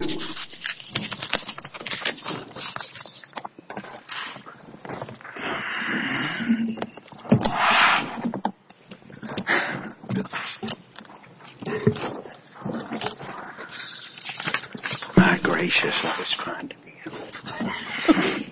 My gracious, that was kind of you.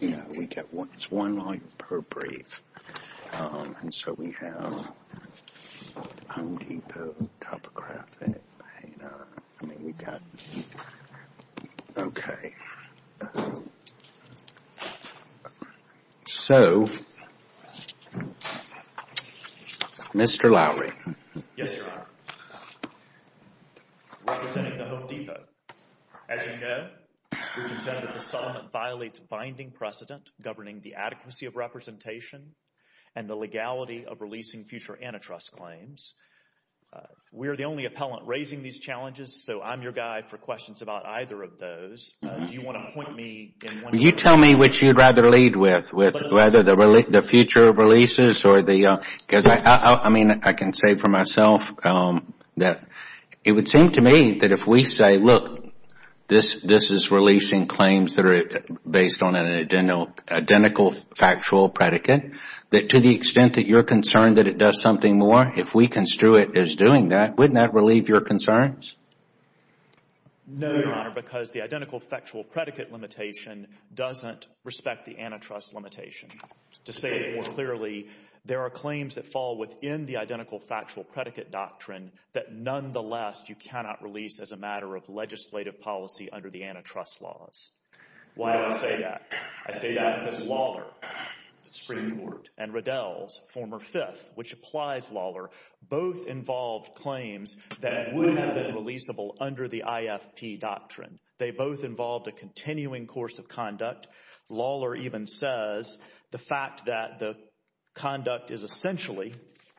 You know, we get one life per brief, um, and so we have, um, So, Mr. Lowry. Yes, Your Honor. We are the only appellant raising these challenges, so I am your guide for questions about either of those. Do you want to point me in one direction? Well, you tell me which you would rather lead with, with whether the future releases or the, um, because I, I mean, I can say for myself, um, that it would seem to me that if we say, look, this, this is releasing claims that are based on an identical factual predicate, that to the extent that you're concerned that it does something more, if we construe it as doing that, wouldn't that relieve your concerns? No, Your Honor, because the identical factual predicate limitation doesn't respect the antitrust limitation. To say it more clearly, there are claims that fall within the identical factual predicate doctrine that nonetheless you cannot release as a matter of legislative policy under the antitrust laws. Why do I say that? I say that because Lawler, the Supreme Court, and Riddell's former fifth, which applies Lawler, both involved claims that would have been releasable under the IFP doctrine. They both involved a continuing course of conduct. Lawler even says the fact that the conduct is essentially,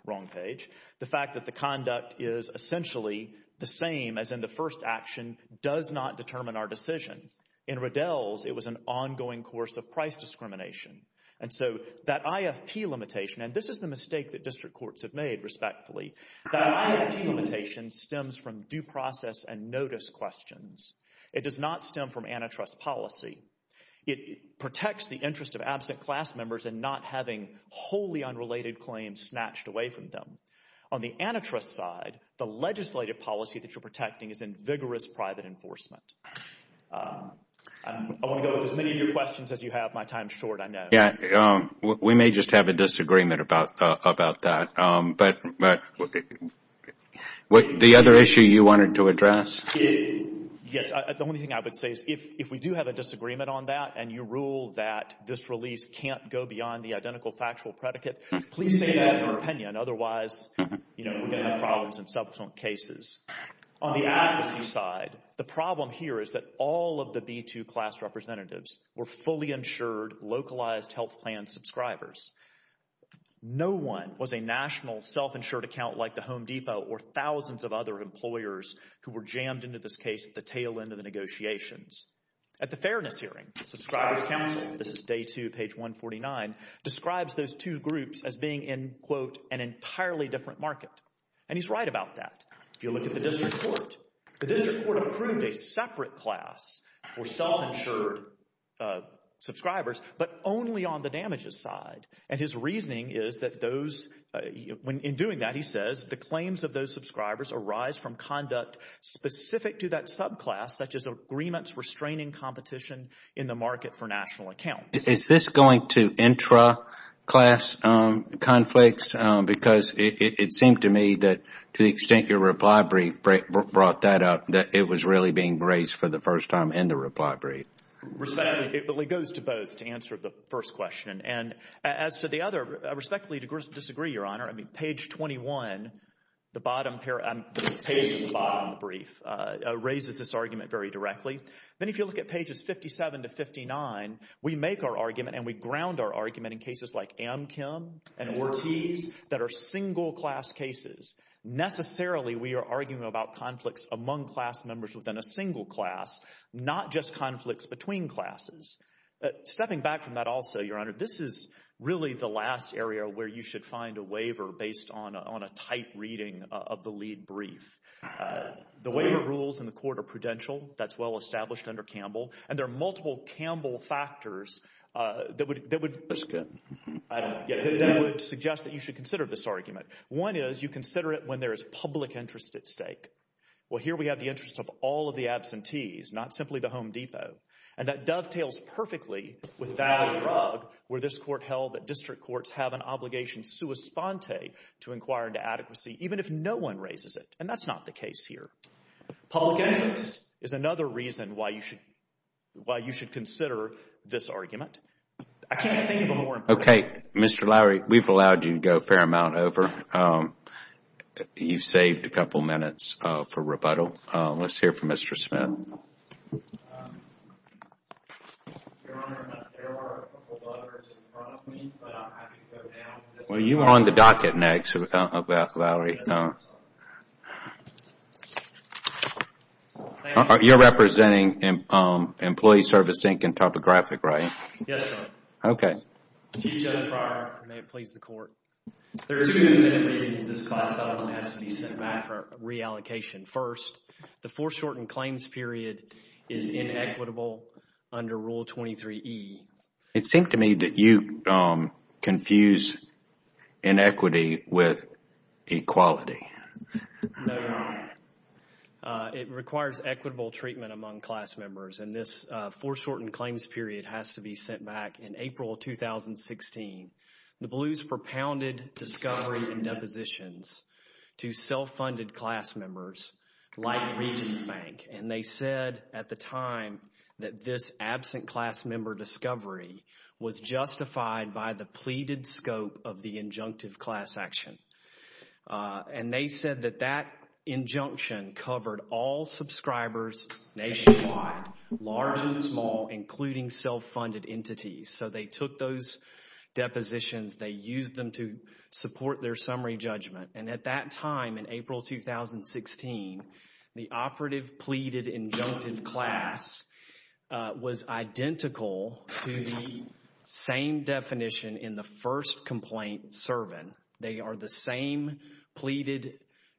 wrong page, the fact that the conduct is essentially the same as in the first action does not determine our decision. In Riddell's, it was an ongoing course of price discrimination. And so that IFP limitation, and this is the mistake that district courts have made, respectfully, that IFP limitation stems from due process and notice questions. It does not stem from antitrust policy. It protects the interest of absent class members and not having wholly unrelated claims snatched away from them. On the antitrust side, the legislative policy that you're protecting is in vigorous private enforcement. I want to go with as many of your questions as you have. My time's short, I know. Yeah. We may just have a disagreement about that. But the other issue you wanted to address? Yes. The only thing I would say is if we do have a disagreement on that and you rule that this release can't go beyond the identical factual predicate, please say that in our opinion. Otherwise, you know, we're going to have problems in subsequent cases. On the advocacy side, the problem here is that all of the B-2 class representatives were fully insured, localized health plan subscribers. No one was a national self-insured account like the Home Depot or thousands of other employers who were jammed into this case at the tail end of the negotiations. At the fairness hearing, Subscribers Council, this is day two, page 149, describes those two groups as being in, quote, an entirely different market. And he's right about that. If you look at the district court, the district court approved a separate class for self-insured subscribers, but only on the damages side. And his reasoning is that those, in doing that, he says, the claims of those subscribers arise from conduct specific to that subclass, such as agreements restraining competition in the market for national accounts. Is this going to intra-class conflicts? Because it seemed to me that to the extent your reply brief brought that up, that it was really being raised for the first time in the reply brief. Respectfully, it goes to both to answer the first question. And as to the other, respectfully disagree, Your Honor. I mean, page 21, the bottom, the page at the bottom of the brief, raises this argument very directly. Then if you look at pages 57 to 59, we make our argument and we ground our argument in cases like Amkim and Ortiz that are single class cases. Necessarily, we are arguing about conflicts among class members within a single class, not just conflicts between classes. Stepping back from that also, Your Honor, this is really the last area where you should find a waiver based on a tight reading of the lead brief. The waiver rules in the court are prudential. That's well established under Campbell. And there are multiple Campbell factors that would suggest that you should consider this argument. One is you consider it when there is public interest at stake. Well, here we have the interest of all of the absentees, not simply the Home Depot. And that dovetails perfectly with valid drug where this court held that district courts have an obligation sua sponte to inquire into adequacy, even if no one raises it. And that's not the case here. Public interest is another reason why you should consider this argument. I can't think of a more important. Okay. Mr. Lowery, we've allowed you to go a fair amount over. You've saved a couple minutes for rebuttal. Let's hear from Mr. Smith. Your Honor, there are a couple of others in front of me, but I'll have to go down. Well, you are on the docket next, Valerie. You're representing Employee Service Inc. and Topographic, right? Yes, Your Honor. Okay. Chief Judge Breyer, may it please the court. There are two reasons this class settlement has to be sent back for reallocation. First, the foreshortened claims period is inequitable under Rule 23E. It seemed to me that you confused inequity with equality. No, Your Honor. It requires equitable treatment among class members, and this foreshortened claims period has to be sent back in April 2016. The Blues propounded discovery and depositions to self-funded class members like Regions Bank, and they said at the time that this absent class member discovery was justified by the pleaded scope of the injunctive class action. And they said that that injunction covered all subscribers nationwide, large and small, including self-funded entities. So they took those depositions. They used them to support their summary judgment. And at that time, in April 2016, the operative pleaded injunctive class was identical to the same definition in the first complaint servant. They are the same pleaded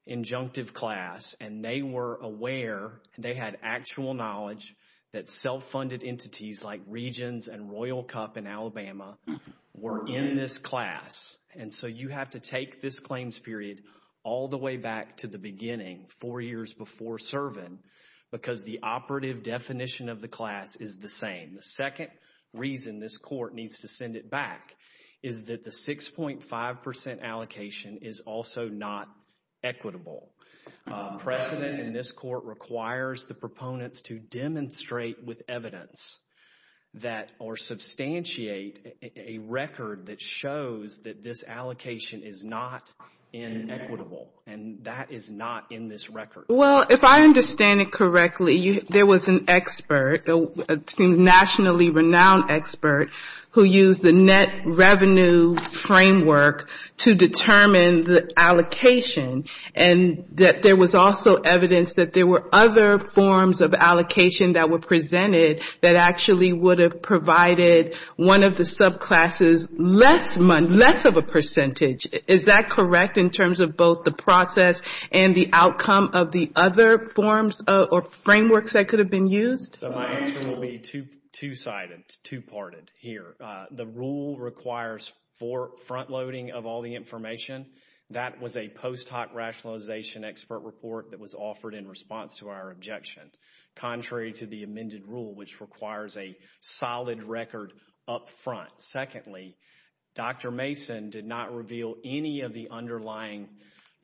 injunctive class, and they were aware, they had actual knowledge, that self-funded entities like Regions and Royal Cup in Alabama were in this class. And so you have to take this claims period all the way back to the beginning, four years before servant, because the operative definition of the class is the same. The second reason this court needs to send it back is that the 6.5 percent allocation is also not equitable. Precedent in this court requires the proponents to demonstrate with evidence that, or substantiate a record that shows that this allocation is not inequitable. And that is not in this record. Well, if I understand it correctly, there was an expert, a nationally renowned expert, who used the net revenue framework to determine the allocation, and that there was also evidence that there were other forms of allocation that were presented that actually would have provided one of the subclasses less of a percentage. Is that correct in terms of both the process and the outcome of the other forms or frameworks that could have been used? So my answer will be two-sided, two-parted here. The rule requires front-loading of all the information. That was a post hoc rationalization expert report that was offered in response to our objection, contrary to the amended rule, which requires a solid record up front. Secondly, Dr. Mason did not reveal any of the underlying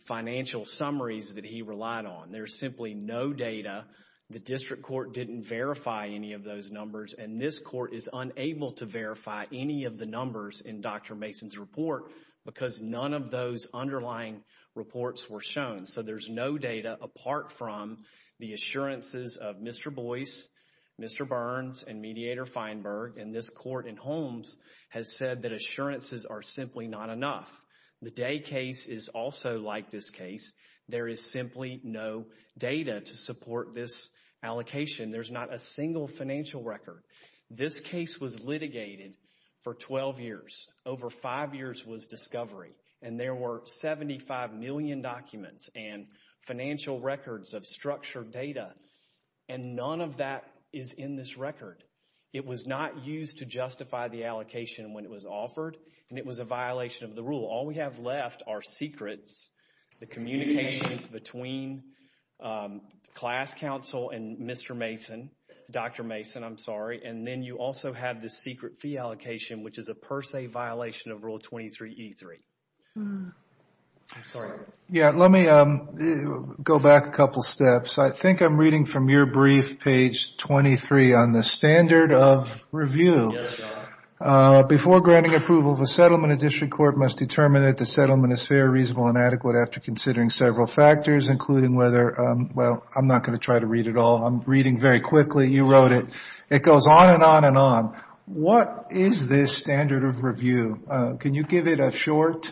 financial summaries that he relied on. There's simply no data. The district court didn't verify any of those numbers, and this court is unable to verify any of the numbers in Dr. Mason's report because none of those underlying reports were shown. So there's no data apart from the assurances of Mr. Boyce, Mr. Burns, and Mediator Feinberg, and this court in Holmes has said that assurances are simply not enough. The Day case is also like this case. There is simply no data to support this allocation. There's not a single financial record. This case was litigated for 12 years. Over five years was discovery, and there were 75 million documents and financial records of structured data, and none of that is in this record. It was not used to justify the allocation when it was offered, and it was a violation of the rule. All we have left are secrets, the communications between class counsel and Mr. Mason, Dr. Mason, I'm sorry, and then you also have the secret fee allocation, which is a per se violation of Rule 23E3. Let me go back a couple steps. I think I'm reading from your brief, page 23, on the standard of review. Yes, John. Before granting approval of a settlement, a district court must determine that the settlement is fair, reasonable, and adequate after considering several factors, including whether, well, I'm not going to try to read it all. I'm reading very quickly. You wrote it. It goes on and on and on. What is this standard of review? Can you give it a short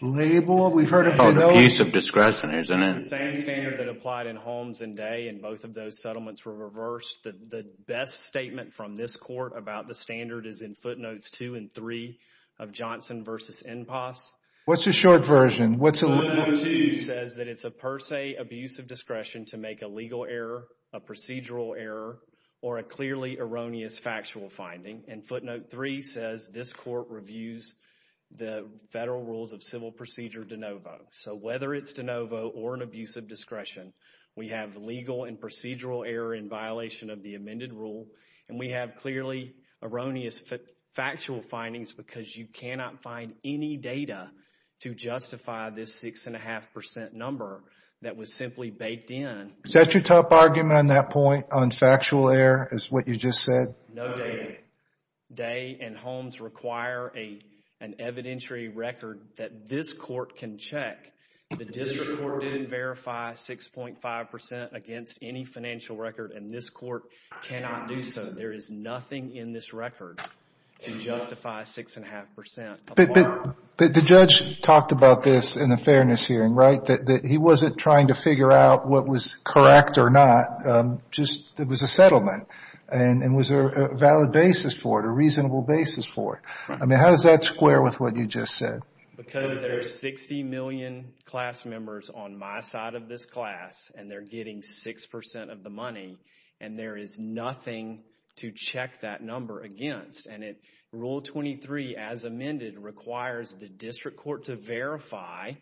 label? We've heard about abuse of discretion, isn't it? It's the same standard that applied in Holmes and Day, and both of those settlements were reversed. The best statement from this court about the standard is in footnotes 2 and 3 of Johnson v. Enpass. What's the short version? Footnote 2 says that it's a per se abuse of discretion to make a legal error, a procedural error, or a clearly erroneous factual finding, and footnote 3 says this court reviews the federal rules of civil procedure de novo. We have legal and procedural error in violation of the amended rule, and we have clearly erroneous factual findings because you cannot find any data to justify this 6.5% number that was simply baked in. Is that your top argument on that point, on factual error, is what you just said? No, David. Day and Holmes require an evidentiary record that this court can check. The district court didn't verify 6.5% against any financial record, and this court cannot do so. There is nothing in this record to justify 6.5%. But the judge talked about this in the fairness hearing, right, that he wasn't trying to figure out what was correct or not. It was a settlement, and was there a valid basis for it, a reasonable basis for it? I mean, how does that square with what you just said? Because there's 60 million class members on my side of this class, and they're getting 6% of the money, and there is nothing to check that number against. And Rule 23, as amended, requires the district court to verify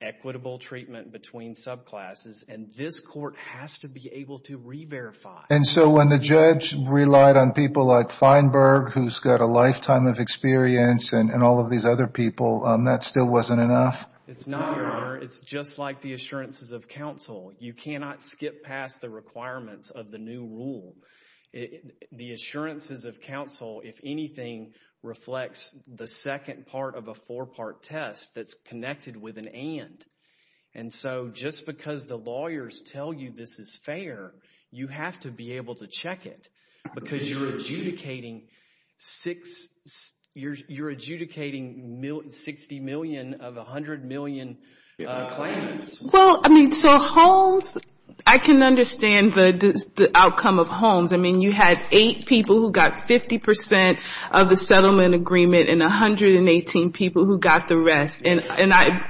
equitable treatment between subclasses, and this court has to be able to re-verify. And so when the judge relied on people like Feinberg, who's got a lifetime of experience, and all of these other people, that still wasn't enough? It's not, Your Honor. It's just like the assurances of counsel. You cannot skip past the requirements of the new rule. The assurances of counsel, if anything, reflects the second part of a four-part test that's connected with an and. And so just because the lawyers tell you this is fair, you have to be able to check it because you're adjudicating 60 million of 100 million claims. Well, I mean, so Holmes, I can understand the outcome of Holmes. I mean, you had eight people who got 50% of the settlement agreement and 118 people who got the rest. And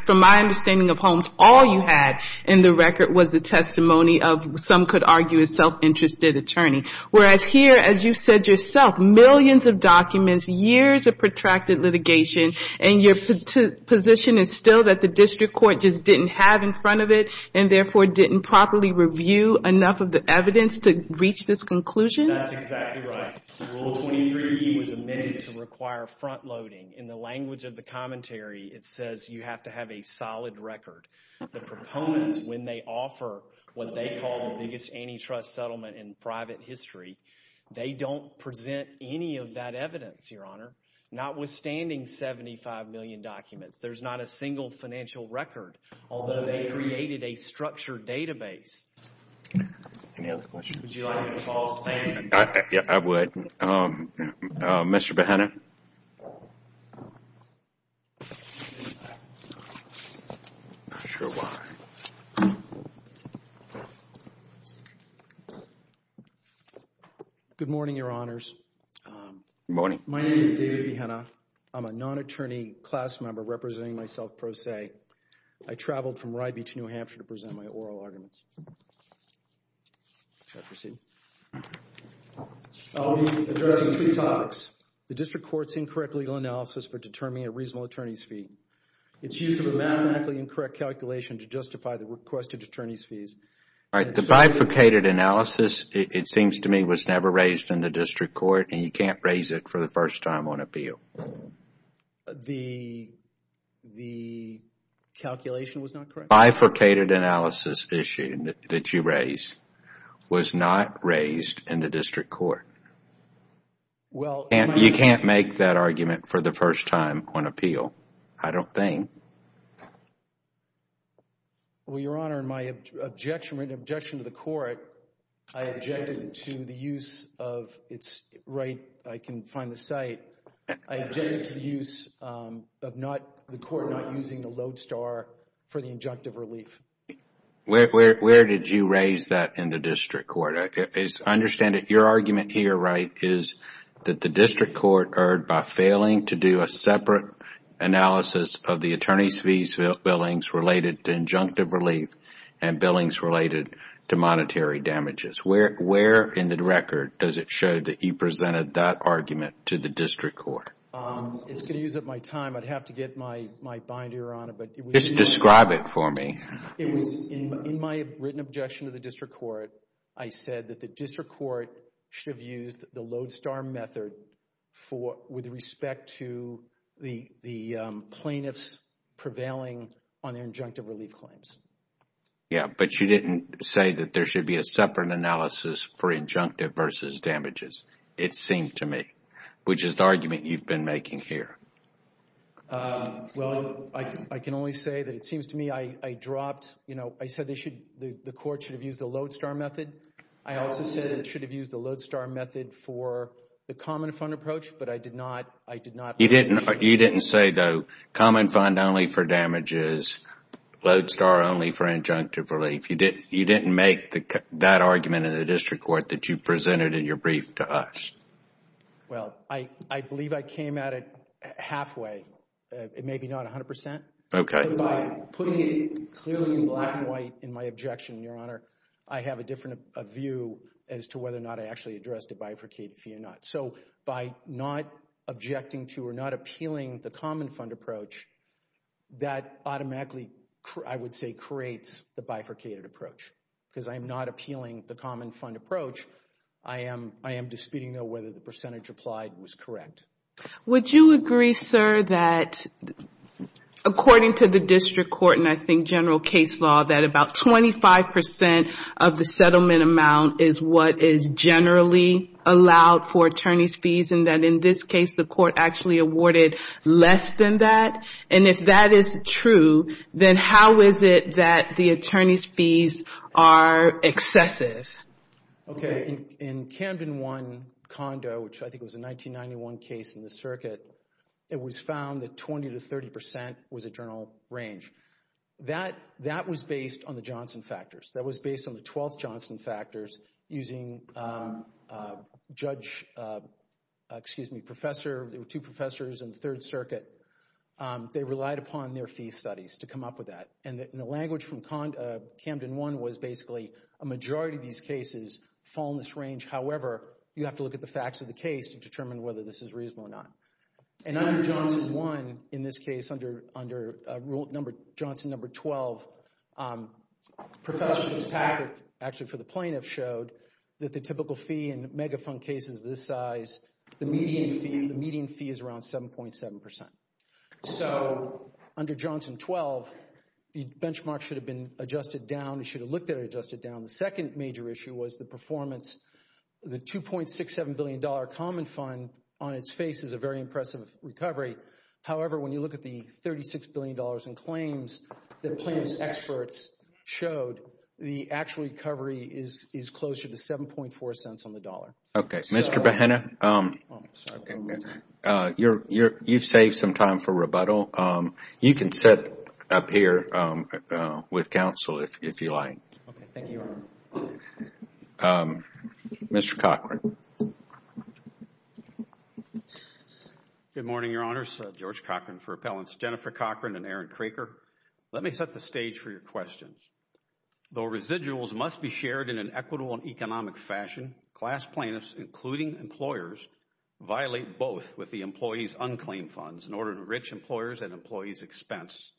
from my understanding of Holmes, all you had in the record was the testimony of, some could argue, a self-interested attorney. Whereas here, as you said yourself, millions of documents, years of protracted litigation, and your position is still that the district court just didn't have in front of it and therefore didn't properly review enough of the evidence to reach this conclusion? That's exactly right. Rule 23E was amended to require front-loading. In the language of the commentary, it says you have to have a solid record. The proponents, when they offer what they call the biggest antitrust settlement in private history, they don't present any of that evidence, Your Honor, notwithstanding 75 million documents. There's not a single financial record, although they created a structured database. Any other questions? Would you like me to call a stand? I would. Mr. Behenna? Not sure why. Good morning, Your Honors. Good morning. My name is David Behenna. I'm a non-attorney class member representing myself pro se. I traveled from Ribey to New Hampshire to present my oral arguments. I'll be addressing three topics. The district court's incorrect legal analysis for determining a reasonable attorney's fee. Its use of a mathematically incorrect calculation to justify the requested attorney's fees. The bifurcated analysis, it seems to me, was never raised in the district court, and you can't raise it for the first time on appeal. The calculation was not correct? The bifurcated analysis issue that you raised was not raised in the district court. You can't make that argument for the first time on appeal, I don't think. Well, Your Honor, my objection to the court, I objected to the use of its right, I can find the site, I objected to the use of not, the court not using the load star for the injunctive relief. Where did you raise that in the district court? I understand that your argument here, right, is that the district court erred by failing to do a separate analysis of the attorney's fees billings related to injunctive relief and billings related to monetary damages. Where in the record does it show that you presented that argument to the district court? It's going to use up my time, I'd have to get my binder on it. Just describe it for me. In my written objection to the district court, I said that the district court should have used the load star method with respect to the plaintiffs prevailing on their injunctive relief claims. Yeah, but you didn't say that there should be a separate analysis for injunctive versus damages, it seemed to me, which is the argument you've been making here. Well, I can only say that it seems to me I dropped, you know, I said the court should have used the load star method. I also said it should have used the load star method for the common fund approach, but I did not. You didn't say, though, common fund only for damages, load star only for injunctive relief. You didn't make that argument in the district court that you presented in your brief to us. Well, I believe I came at it halfway, maybe not 100%. Okay. But by putting it clearly in black and white in my objection, Your Honor, I have a different view as to whether or not I actually addressed it bifurcated fee or not. So by not objecting to or not appealing the common fund approach, that automatically, I would say, creates the bifurcated approach because I am not appealing the common fund approach. I am disputing, though, whether the percentage applied was correct. Would you agree, sir, that according to the district court and I think general case law, that about 25% of the settlement amount is what is generally allowed for attorney's fees and that in this case the court actually awarded less than that? And if that is true, then how is it that the attorney's fees are excessive? Okay. In Camden 1 condo, which I think was a 1991 case in the circuit, it was found that 20% to 30% was a general range. That was based on the Johnson factors. That was based on the 12th Johnson factors using judge, excuse me, professor. There were two professors in the Third Circuit. They relied upon their fee studies to come up with that. And the language from Camden 1 was basically a majority of these cases fall in this range. However, you have to look at the facts of the case to determine whether this is reasonable or not. And under Johnson 1, in this case, under Johnson number 12, Professor Fitzpatrick, actually for the plaintiff, showed that the typical fee in mega fund cases this size, the median fee is around 7.7%. So under Johnson 12, the benchmark should have been adjusted down. It should have looked at it adjusted down. The second major issue was the performance. The $2.67 billion common fund on its face is a very impressive recovery. However, when you look at the $36 billion in claims, the plaintiff's experts showed the actual recovery is closer to 7.4 cents on the dollar. Okay. Mr. Behena, you've saved some time for rebuttal. You can sit up here with counsel if you like. Okay. Thank you. Mr. Cochran. Good morning, Your Honors. George Cochran for Appellants Jennifer Cochran and Aaron Craker. Let me set the stage for your questions. Though residuals must be shared in an equitable and economic fashion, class plaintiffs, including employers, violate both with the employee's unclaimed funds in order to enrich employers' and employees' expense.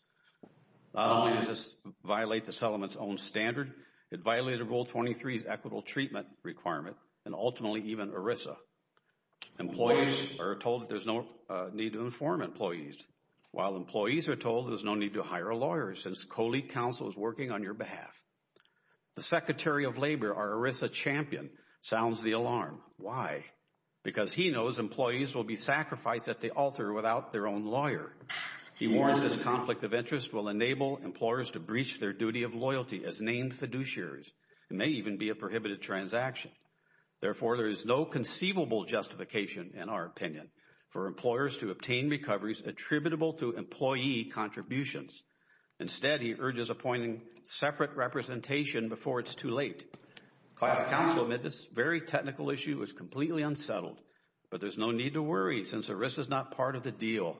Not only does this violate the settlement's own standard, it violated Rule 23's equitable treatment requirement, and ultimately even ERISA. Employees are told there's no need to inform employees, while employees are told there's no need to hire a lawyer, since colleague counsel is working on your behalf. The Secretary of Labor, our ERISA champion, sounds the alarm. Why? Because he knows employees will be sacrificed at the altar without their own lawyer. He warns this conflict of interest will enable employers to breach their duty of loyalty as named fiduciaries. It may even be a prohibited transaction. Therefore, there is no conceivable justification, in our opinion, for employers to obtain recoveries attributable to employee contributions. Instead, he urges appointing separate representation before it's too late. Class counsel admits this very technical issue is completely unsettled, but there's no need to worry, since ERISA is not part of the deal,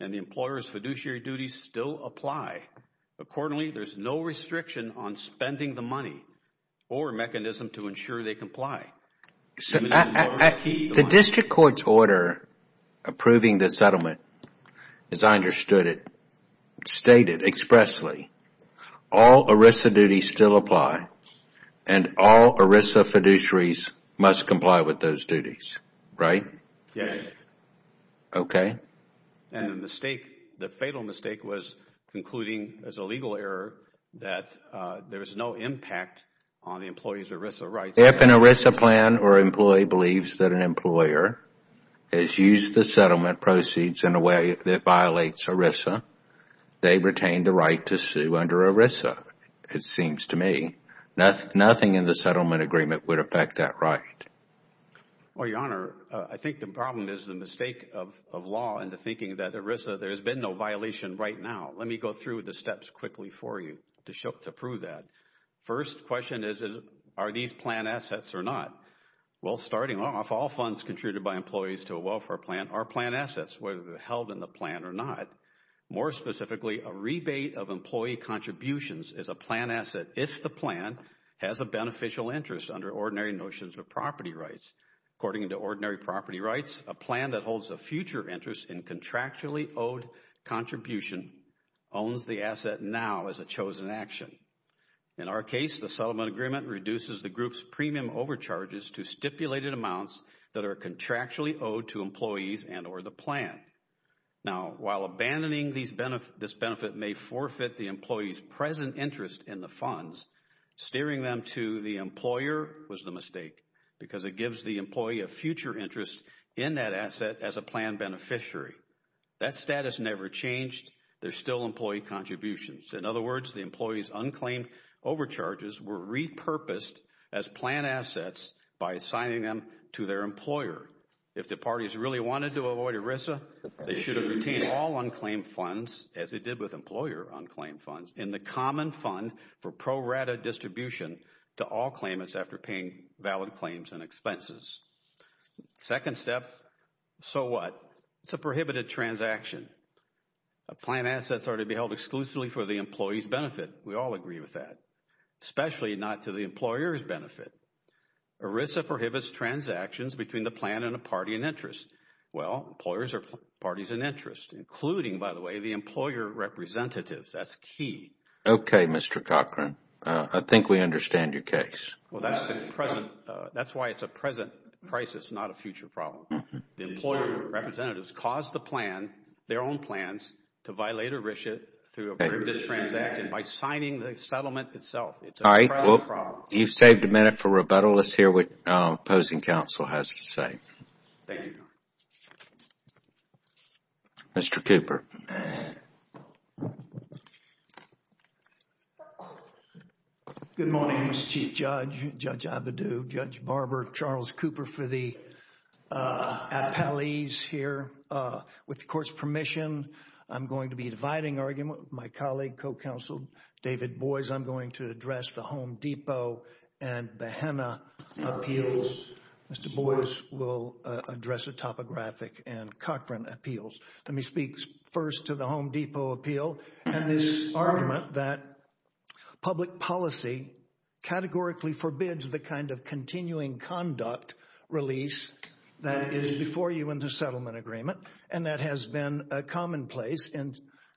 and the employer's fiduciary duties still apply. Accordingly, there's no restriction on spending the money or mechanism to ensure they comply. The district court's order approving the settlement, as I understood it, stated expressly, all ERISA duties still apply, and all ERISA fiduciaries must comply with those duties, right? Yes. Okay. And the fatal mistake was concluding, as a legal error, that there is no impact on the employee's ERISA rights. If an ERISA plan or employee believes that an employer has used the settlement proceeds in a way that violates ERISA, they retain the right to sue under ERISA. It seems to me nothing in the settlement agreement would affect that right. Well, Your Honor, I think the problem is the mistake of law into thinking that ERISA, there has been no violation right now. Let me go through the steps quickly for you to prove that. First question is, are these plan assets or not? Well, starting off, all funds contributed by employees to a welfare plan are plan assets, whether they're held in the plan or not. More specifically, a rebate of employee contributions is a plan asset if the plan has a beneficial interest under ordinary notions of property rights. According to ordinary property rights, a plan that holds a future interest in contractually owed contribution owns the asset now as a chosen action. In our case, the settlement agreement reduces the group's premium overcharges to stipulated amounts that are contractually owed to employees and or the plan. Now, while abandoning this benefit may forfeit the employee's present interest in the funds, steering them to the employer was the mistake because it gives the employee a future interest in that asset as a plan beneficiary. That status never changed. There's still employee contributions. In other words, the employee's unclaimed overcharges were repurposed as plan assets by assigning them to their employer. If the parties really wanted to avoid ERISA, they should have retained all unclaimed funds, as they did with employer unclaimed funds, in the common fund for pro rata distribution to all claimants after paying valid claims and expenses. Second step, so what? It's a prohibited transaction. Plan assets are to be held exclusively for the employee's benefit. We all agree with that, especially not to the employer's benefit. ERISA prohibits transactions between the plan and a party in interest. Well, employers are parties in interest, including, by the way, the employer representatives. That's key. Okay, Mr. Cochran, I think we understand your case. That's why it's a present crisis, not a future problem. The employer representatives caused the plan, their own plans, to violate ERISA through a prohibited transaction by signing the settlement itself. It's a present problem. All right, well, you've saved a minute for rebuttal. Let's hear what opposing counsel has to say. Thank you, Your Honor. Mr. Cooper. Good morning, Mr. Chief Judge, Judge Abadou, Judge Barber, Charles Cooper for the appellees here. With the Court's permission, I'm going to be dividing argument with my colleague, my co-counsel, David Boies. I'm going to address the Home Depot and the HENA appeals. Mr. Boies will address the topographic and Cochran appeals. Let me speak first to the Home Depot appeal and this argument that public policy categorically forbids the kind of continuing conduct release that is before you in the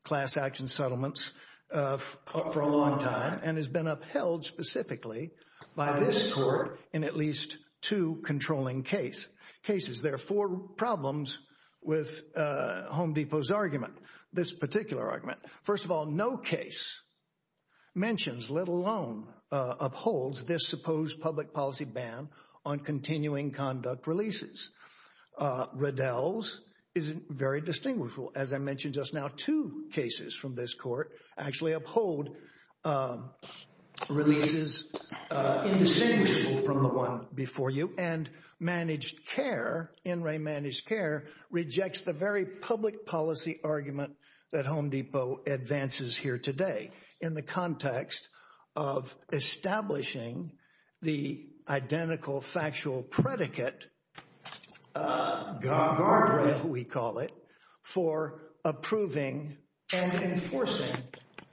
transaction settlements for a long time and has been upheld specifically by this Court in at least two controlling cases. There are four problems with Home Depot's argument, this particular argument. First of all, no case mentions, let alone upholds, this supposed public policy ban on continuing conduct releases. Riddell's is very distinguishable. As I mentioned just now, two cases from this Court actually uphold releases indistinguishable from the one before you. And managed care, in re-managed care, rejects the very public policy argument that Home Depot advances here today in the context of establishing the identical factual predicate, guardrail we call it, for approving and enforcing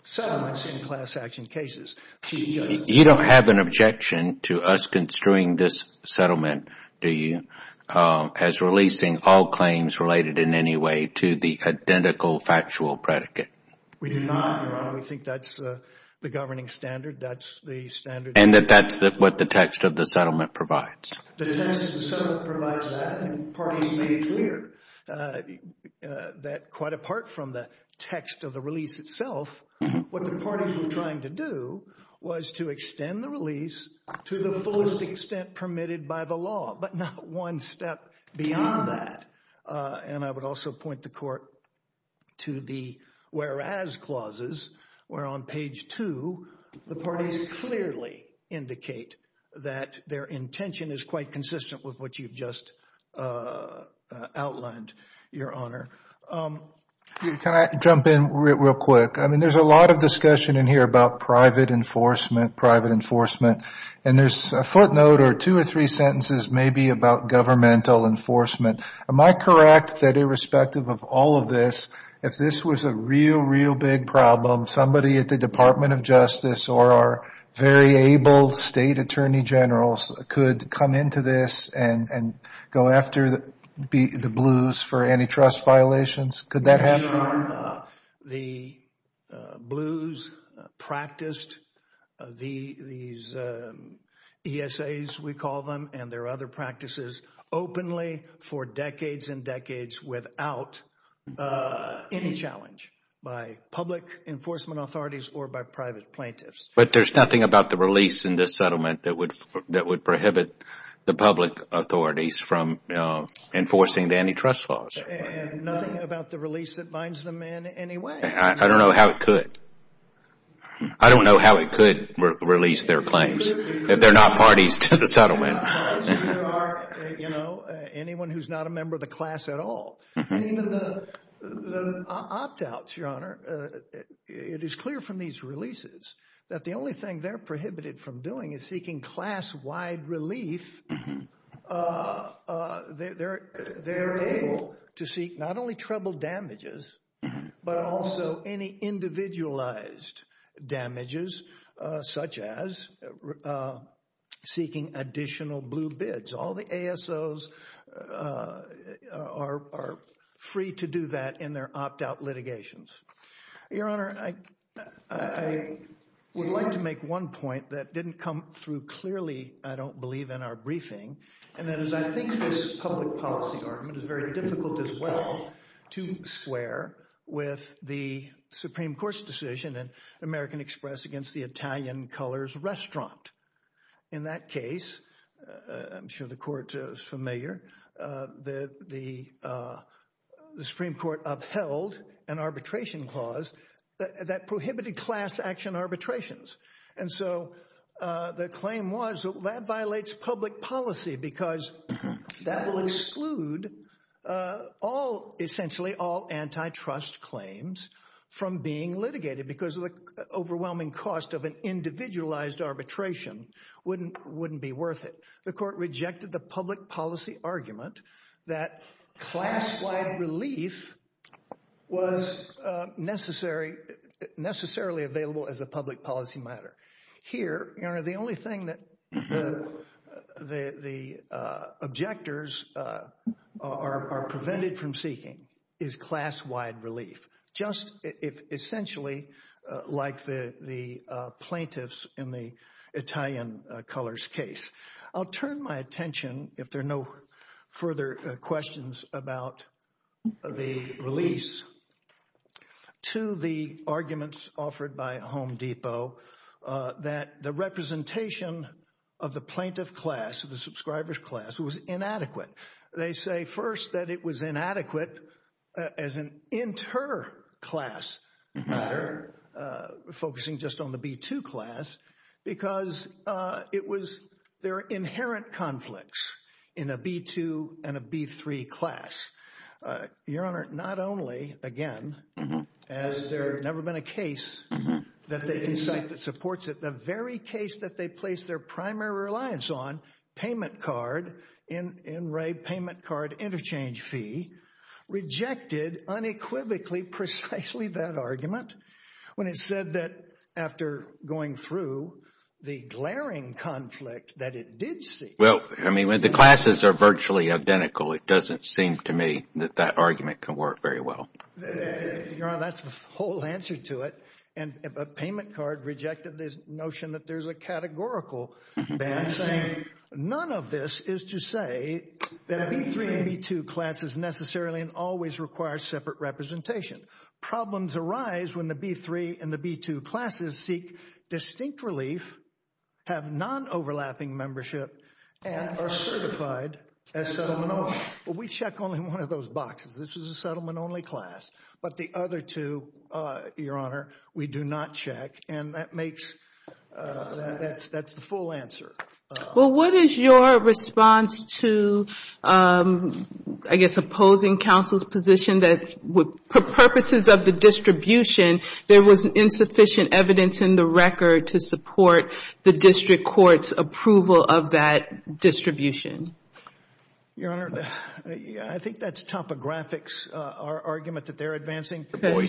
settlements in class action cases. You don't have an objection to us construing this settlement, do you, as releasing all claims related in any way to the identical factual predicate? We do not, Your Honor. We think that's the governing standard. That's the standard. And that that's what the text of the settlement provides. The text of the settlement provides that, and the parties made it clear that quite apart from the text of the release itself, what the parties were trying to do was to extend the release to the fullest extent permitted by the law, but not one step beyond that. And I would also point the Court to the whereas clauses, where on page 2, the parties clearly indicate that their intention is quite consistent with what you've just outlined, Your Honor. Can I jump in real quick? I mean, there's a lot of discussion in here about private enforcement, private enforcement, and there's a footnote or two or three sentences maybe about governmental enforcement. Am I correct that irrespective of all of this, if this was a real, real big problem, somebody at the Department of Justice or our very able State Attorney Generals could come into this and go after the blues for antitrust violations? Could that happen? Your Honor, the blues practiced these ESAs, we call them, and there are other practices openly for decades and decades without any challenge by public enforcement authorities or by private plaintiffs. But there's nothing about the release in this settlement that would prohibit the public authorities from enforcing the antitrust laws? And nothing about the release that binds them in any way? I don't know how it could. I don't know how it could release their claims if they're not parties to the settlement. There are, you know, anyone who's not a member of the class at all. And even the opt-outs, Your Honor, it is clear from these releases that the only thing they're to seek not only trouble damages, but also any individualized damages, such as seeking additional blue bids. All the ASOs are free to do that in their opt-out litigations. Your Honor, I would like to make one point that didn't come through clearly, I don't believe, in our briefing. And that is I think this public policy argument is very difficult as well to square with the Supreme Court's decision in American Express against the Italian Colors Restaurant. In that case, I'm sure the Court is familiar, the Supreme Court upheld an arbitration clause that prohibited class action arbitrations. And so the claim was that that violates public policy because that will exclude all, essentially all antitrust claims from being litigated because of the overwhelming cost of an individualized arbitration wouldn't be worth it. The Court rejected the public policy argument that class-wide relief was necessarily available as a public policy matter. Here, Your Honor, the only thing that the objectors are prevented from seeking is class-wide relief, just essentially like the plaintiffs in the Italian Colors case. I'll turn my attention, if there are no further questions about the release, to the arguments offered by Home Depot that the representation of the plaintiff class, of the subscriber's class, was inadequate. They say, first, that it was inadequate as an inter-class matter, focusing just on the B-2 class, because it was their inherent conflicts in a B-2 and a B-3 class. Your Honor, not only, again, as there has never been a case that supports it, the very case that they placed their primary reliance on, payment card, in Ray, payment card interchange fee, rejected unequivocally precisely that argument when it said that after going through the glaring conflict that it did seek. Well, I mean, when the classes are virtually identical, it doesn't seem to me that that argument can work very well. Your Honor, that's the whole answer to it, and a payment card rejected the notion that there's a categorical ban saying none of this is to say that a B-3 and B-2 class is necessarily and always requires separate representation. Problems arise when the B-3 and the B-2 classes seek distinct relief, have non-overlapping membership, and are certified as settlement-only. We check only one of those boxes. This is a settlement-only class, but the other two, Your Honor, we do not check, and that makes, that's the full answer. Well, what is your response to, I guess, opposing counsel's position that for purposes of the distribution, there was insufficient evidence in the record to support the district court's approval of that distribution? Your Honor, I think that's topographics, our argument that they're advancing. Okay. I'm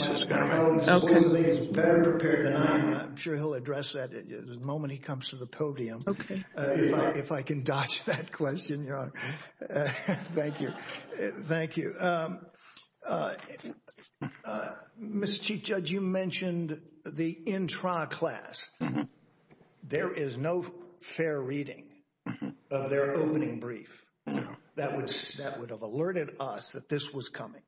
sure he'll address that the moment he comes to the podium. If I can dodge that question, Your Honor. Thank you. Thank you. Mr. Chief Judge, you mentioned the intra-class. There is no fair reading of their opening brief. That would have alerted us that this was coming.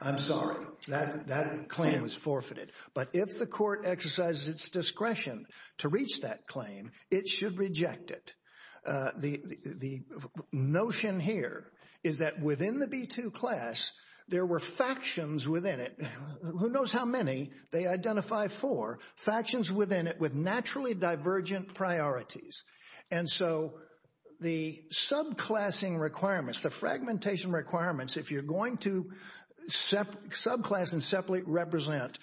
I'm sorry. That claim was forfeited. But if the court exercises its discretion to reach that claim, it should reject it. The notion here is that within the B-2 class, there were factions within it. Who knows how many? They identify four factions within it with naturally divergent priorities. And so the subclassing requirements, the fragmentation requirements, if you're going to subclass and separately represent,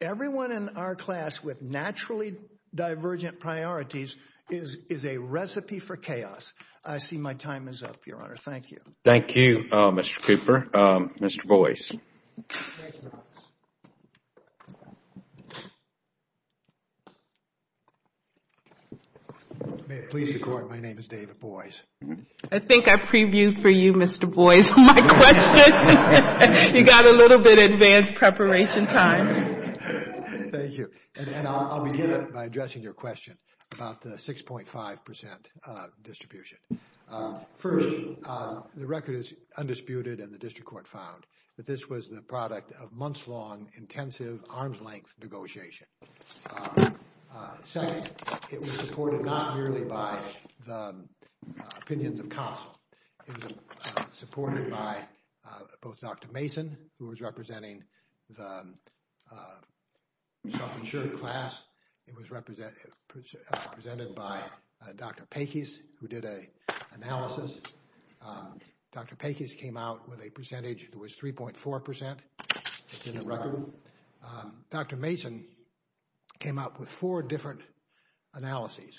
everyone in our class with naturally divergent priorities is a recipe for chaos. I see my time is up, Your Honor. Thank you. Thank you, Mr. Cooper. Mr. Boyce. Thank you, Your Honor. May it please the Court, my name is David Boyce. I think I previewed for you, Mr. Boyce, my question. You got a little bit advanced preparation time. Thank you. And I'll begin by addressing your question about the 6.5% distribution. First, the record is undisputed and the district court found that this was the product of months-long, intensive, arm's-length negotiation. Second, it was supported not merely by the opinions of counsel. It was supported by both Dr. Mason, who was representing the self-insured class. It was represented by Dr. Peckis, who did an analysis. Dr. Peckis came out with a percentage that was 3.4%. It's in the record. Dr. Mason came out with four different analyses,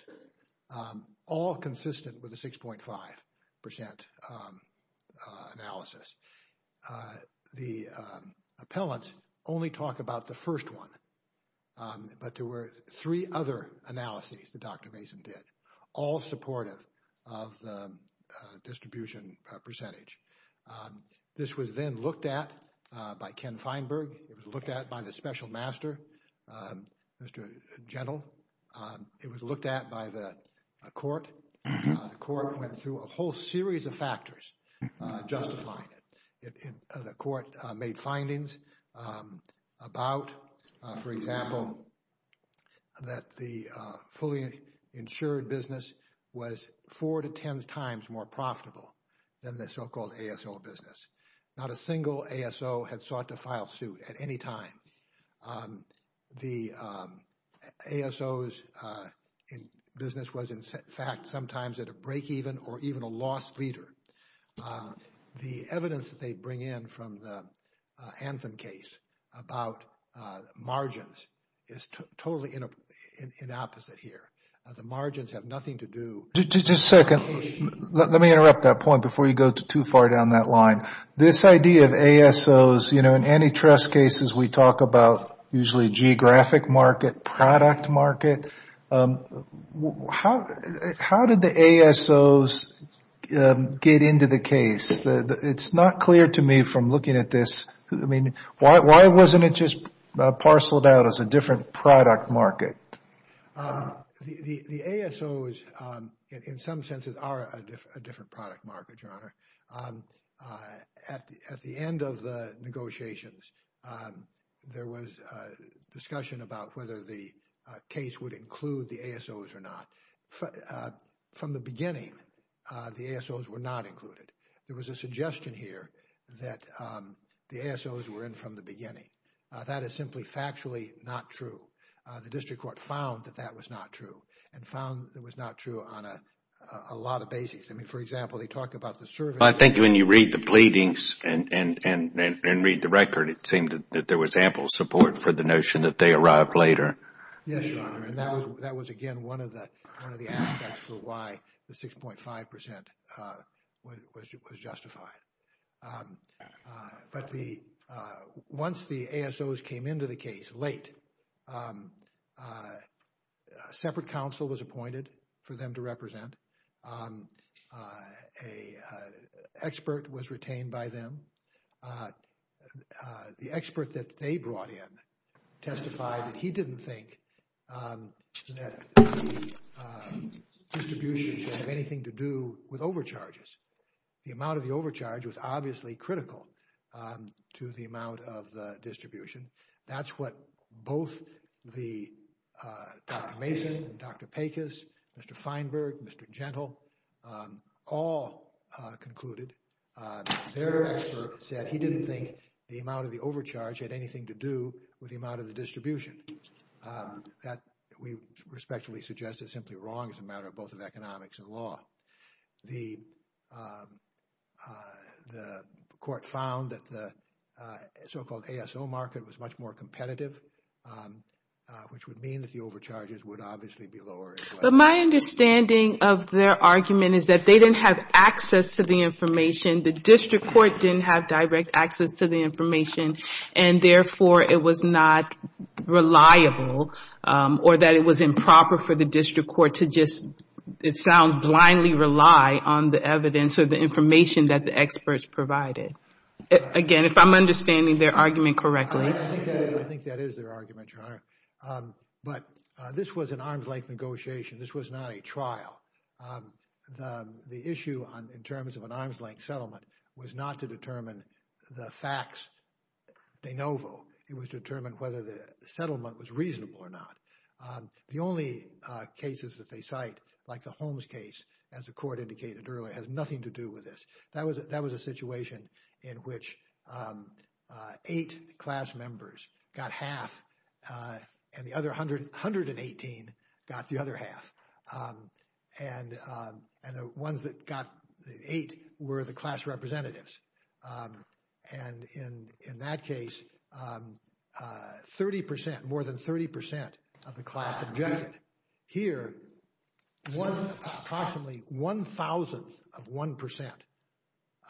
all consistent with the 6.5% analysis. The appellants only talk about the first one, but there were three other analyses that Dr. Mason did, all supportive of the distribution percentage. This was then looked at by Ken Feinberg. It was looked at by the special master, Mr. Gentle. It was looked at by the court. The court went through a whole series of factors justifying it. The court made findings about, for example, that the fully insured business was four to ten times more profitable than the so-called ASO business. Not a single ASO had sought to file suit at any time. The ASO's business was, in fact, sometimes at a break-even or even a lost leader. The evidence that they bring in from the Anthem case about margins is totally inopposite here. The margins have nothing to do with the case. Just a second. Let me interrupt that point before you go too far down that line. This idea of ASO's, you know, in antitrust cases, we talk about usually geographic market, product market. How did the ASO's get into the case? It's not clear to me from looking at this. I mean, why wasn't it just parceled out as a different product market? The ASO's, in some senses, are a different product market, Your Honor. At the end of the negotiations, there was a discussion about whether the case would include the ASO's or not. From the beginning, the ASO's were not included. There was a suggestion here that the ASO's were in from the beginning. That is simply factually not true. The district court found that that was not true and found it was not true on a lot of bases. I mean, for example, they talked about the service. I think when you read the pleadings and read the record, it seemed that there was ample support for the notion that they arrived later. Yes, Your Honor. That was, again, one of the aspects for why the 6.5% was justified. But once the ASO's came into the case late, a separate counsel was appointed for them to represent. An expert was retained by them. The expert that they brought in testified that he didn't think that distribution should have anything to do with overcharges. The amount of the overcharge was obviously critical to the amount of the distribution. That's what both Dr. Mason, Dr. Pecos, Mr. Feinberg, Mr. Gentle all concluded. Their expert said he didn't think the amount of the overcharge had anything to do with the amount of the distribution. That, we respectfully suggest, is simply wrong as a matter of both of economics and law. The court found that the so-called ASO market was much more competitive, which would mean that the overcharges would obviously be lower. But my understanding of their argument is that they didn't have access to the information. The district court didn't have direct access to the information. Therefore, it was not reliable or that it was improper for the district court to just, it sounds, blindly rely on the evidence or the information that the experts provided. Again, if I'm understanding their argument correctly. I think that is their argument, Your Honor. But this was an arm's-length negotiation. This was not a trial. The issue in terms of an arm's-length settlement was not to determine the facts de novo. It was to determine whether the settlement was reasonable or not. The only cases that they cite, like the Holmes case, as the court indicated earlier, has nothing to do with this. That was a situation in which eight class members got half and the other 118 got the other half. And the ones that got the eight were the class representatives. And in that case, 30 percent, more than 30 percent of the class objected. Here, approximately one thousandth of one percent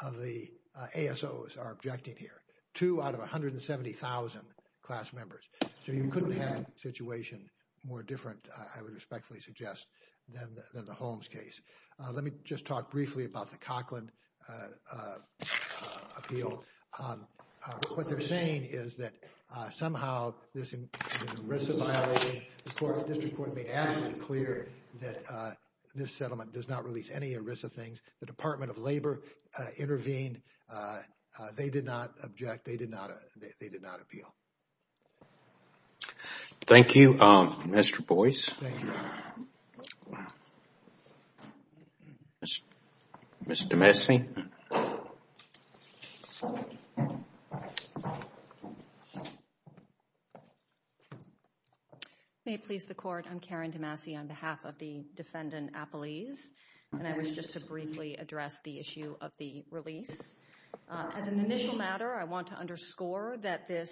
of the ASOs are objecting here. Two out of 170,000 class members. So you couldn't have a situation more different, I would respectfully suggest, than the Holmes case. Let me just talk briefly about the Coughlin appeal. What they're saying is that somehow this is an ERISA violation. The district court made absolutely clear that this settlement does not release any ERISA things. The Department of Labor intervened. They did not object. They did not appeal. Thank you, Mr. Boyce. Thank you. Ms. DeMasi? May it please the court, I'm Karen DeMasi on behalf of the defendant, Apolise. And I wish just to briefly address the issue of the release. As an initial matter, I want to underscore that this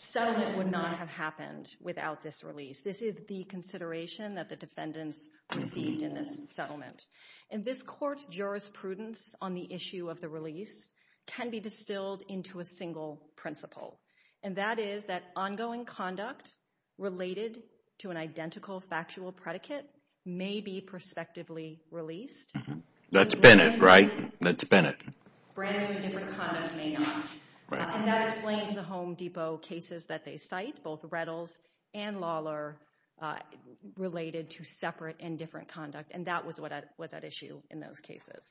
settlement would not have happened without this release. This is the consideration that the defendants received in this settlement. And this court's jurisprudence on the issue of the release can be distilled into a single principle. And that is that ongoing conduct related to an identical factual predicate may be prospectively released. That's Bennett, right? That's Bennett. Brand new and different conduct may not. And that explains the Home Depot cases that they cite, both Rettles and Lawler, related to separate and different conduct. And that was what was at issue in those cases.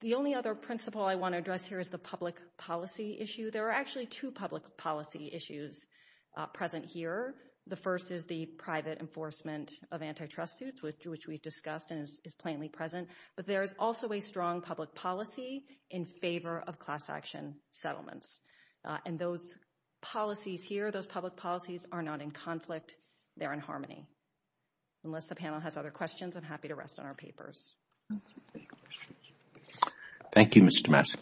The only other principle I want to address here is the public policy issue. There are actually two public policy issues present here. The first is the private enforcement of antitrust suits, which we've discussed and is plainly present. But there is also a strong public policy in favor of class action settlements. And those policies here, those public policies, are not in conflict. They're in harmony. Unless the panel has other questions, I'm happy to rest on our papers. Thank you, Mr. Massey.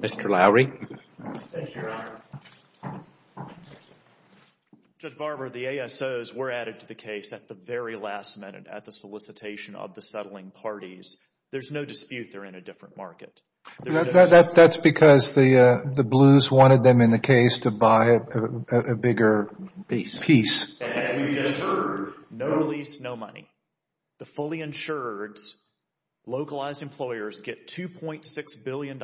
Mr. Lowery. Thank you, Your Honor. Judge Barber, the ASOs were added to the case at the very last minute at the solicitation of the settling parties. There's no dispute they're in a different market. That's because the Blues wanted them in the case to buy a bigger piece. And we just heard, no lease, no money. The fully insured, localized employers get $2.6 billion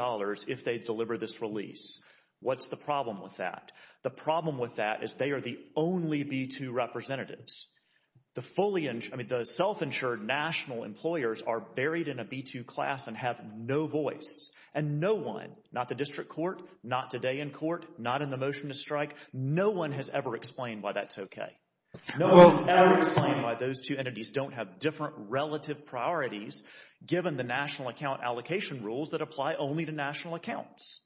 if they deliver this release. What's the problem with that? The problem with that is they are the only B-2 representatives. The self-insured national employers are buried in a B-2 class and have no voice. And no one, not the district court, not today in court, not in the motion to strike, no one has ever explained why that's okay. No one has ever explained why those two entities don't have different relative priorities given the national account allocation rules that apply only to national accounts.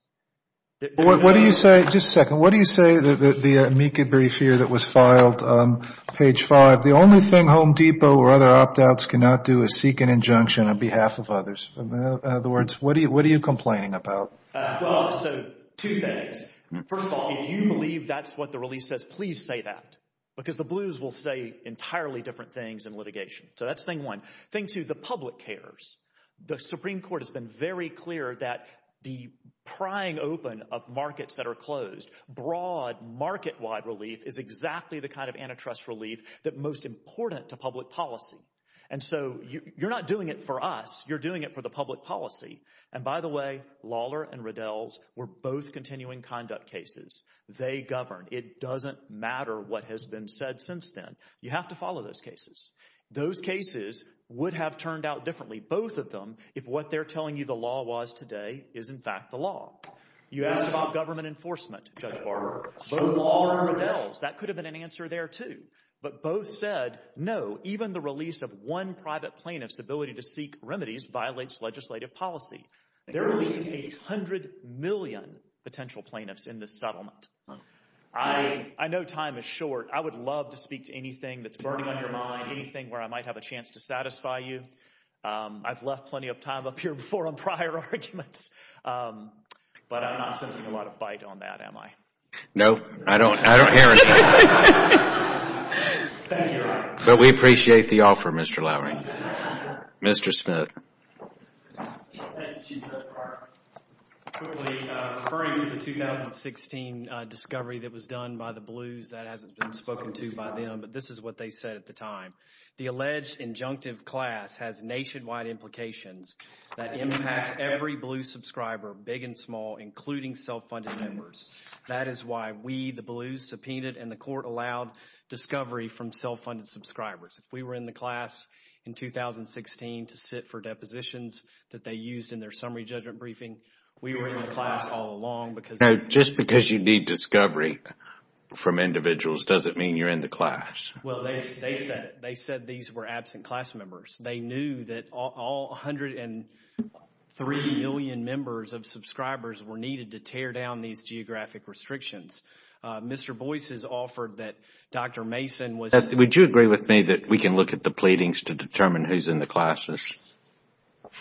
What do you say, just a second, what do you say, the amici brief here that was filed on page 5, the only thing Home Depot or other opt-outs cannot do is seek an injunction on behalf of others. In other words, what are you complaining about? Well, so two things. First of all, if you believe that's what the release says, please say that. Because the Blues will say entirely different things in litigation. So that's thing one. Thing two, the public cares. The Supreme Court has been very clear that the prying open of markets that are closed, broad market-wide relief is exactly the kind of antitrust relief that's most important to public policy. And so you're not doing it for us, you're doing it for the public policy. And by the way, Lawler and Riddell's were both continuing conduct cases. They govern. It doesn't matter what has been said since then. You have to follow those cases. Those cases would have turned out differently, both of them, if what they're telling you the law was today is in fact the law. You asked about government enforcement, Judge Barber. Both Lawler and Riddell's, that could have been an answer there too. But both said no, even the release of one private plaintiff's ability to seek remedies violates legislative policy. They're releasing 800 million potential plaintiffs in this settlement. I know time is short. I would love to speak to anything that's burning on your mind, anything where I might have a chance to satisfy you. I've left plenty of time up here before on prior arguments, but I'm not sensing a lot of bite on that, am I? No, I don't hear it. But we appreciate the offer, Mr. Lowry. Mr. Smith. Thank you, Chief Judge Barber. Quickly, referring to the 2016 discovery that was done by the Blues, that hasn't been spoken to by them, but this is what they said at the time. The alleged injunctive class has nationwide implications that impact every Blues subscriber, big and small, including self-funded members. That is why we, the Blues, subpoenaed and the court allowed discovery from self-funded subscribers. If we were in the class in 2016 to sit for depositions that they used in their summary judgment briefing, we were in the class all along. Now, just because you need discovery from individuals doesn't mean you're in the class. Well, they said these were absent class members. They knew that all 103 million members of subscribers were needed to tear down these geographic restrictions. Mr. Boyce has offered that Dr. Mason was— Would you agree with me that we can look at the pleadings to determine who's in the classes?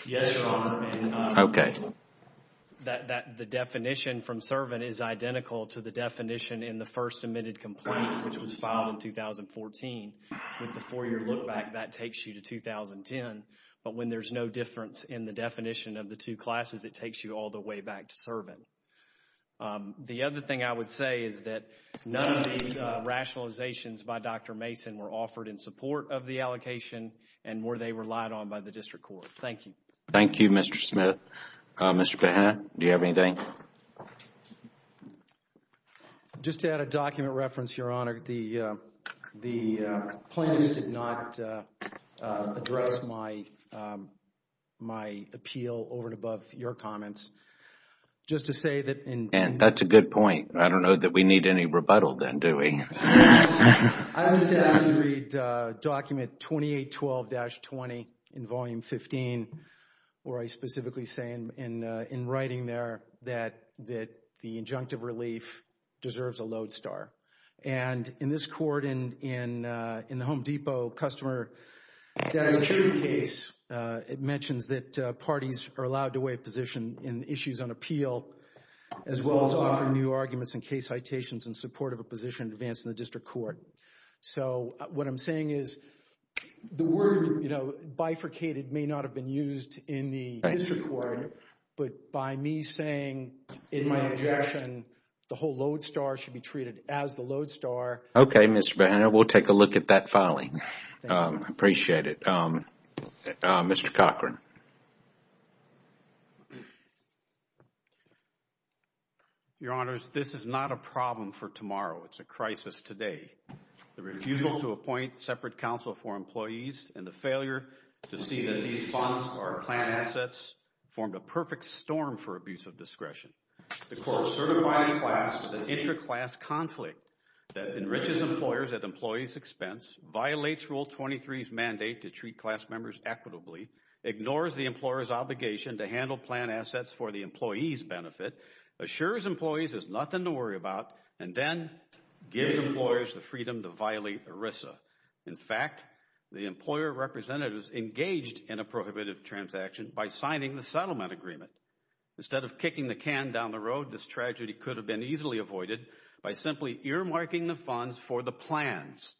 Yes, Your Honor. Okay. The definition from Servant is identical to the definition in the first admitted complaint, which was filed in 2014. With the four-year look back, that takes you to 2010. But when there's no difference in the definition of the two classes, it takes you all the way back to Servant. The other thing I would say is that none of these rationalizations by Dr. Mason were offered in support of the allocation and were they relied on by the district court. Thank you. Thank you, Mr. Smith. Mr. Pena, do you have anything? Just to add a document reference, Your Honor, the plaintiffs did not address my appeal over and above your comments. Just to say that— And that's a good point. I don't know that we need any rebuttal then, do we? I was asked to read document 2812-20 in volume 15 where I specifically say in writing there that the injunctive relief deserves a lodestar. And in this court, in the Home Depot customer, that is a true case. It mentions that parties are allowed to weigh position in issues on appeal as well as offer new arguments and case citations in support of a position advanced in the district court. So what I'm saying is the word bifurcated may not have been used in the district court, but by me saying in my objection the whole lodestar should be treated as the lodestar— Okay, Mr. Pena, we'll take a look at that filing. I appreciate it. Mr. Cochran. Your Honors, this is not a problem for tomorrow. It's a crisis today. The refusal to appoint separate counsel for employees and the failure to see that these funds are planned assets formed a perfect storm for abuse of discretion. The court certifying class as an interclass conflict that enriches employers at employees' expense, violates Rule 23's mandate to treat class members equitably, ignores the employer's obligation to handle planned assets for the employee's benefit, assures employees there's nothing to worry about, and then gives employers the freedom to violate ERISA. In fact, the employer representatives engaged in a prohibitive transaction by signing the settlement agreement. Instead of kicking the can down the road, this tragedy could have been easily avoided by simply earmarking the funds for the plans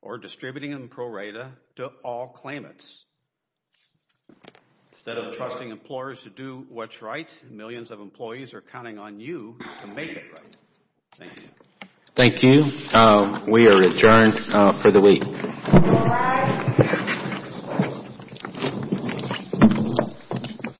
or distributing them pro rata to all claimants. Instead of trusting employers to do what's right, millions of employees are counting on you to make it right. Thank you. Thank you. We are adjourned for the week.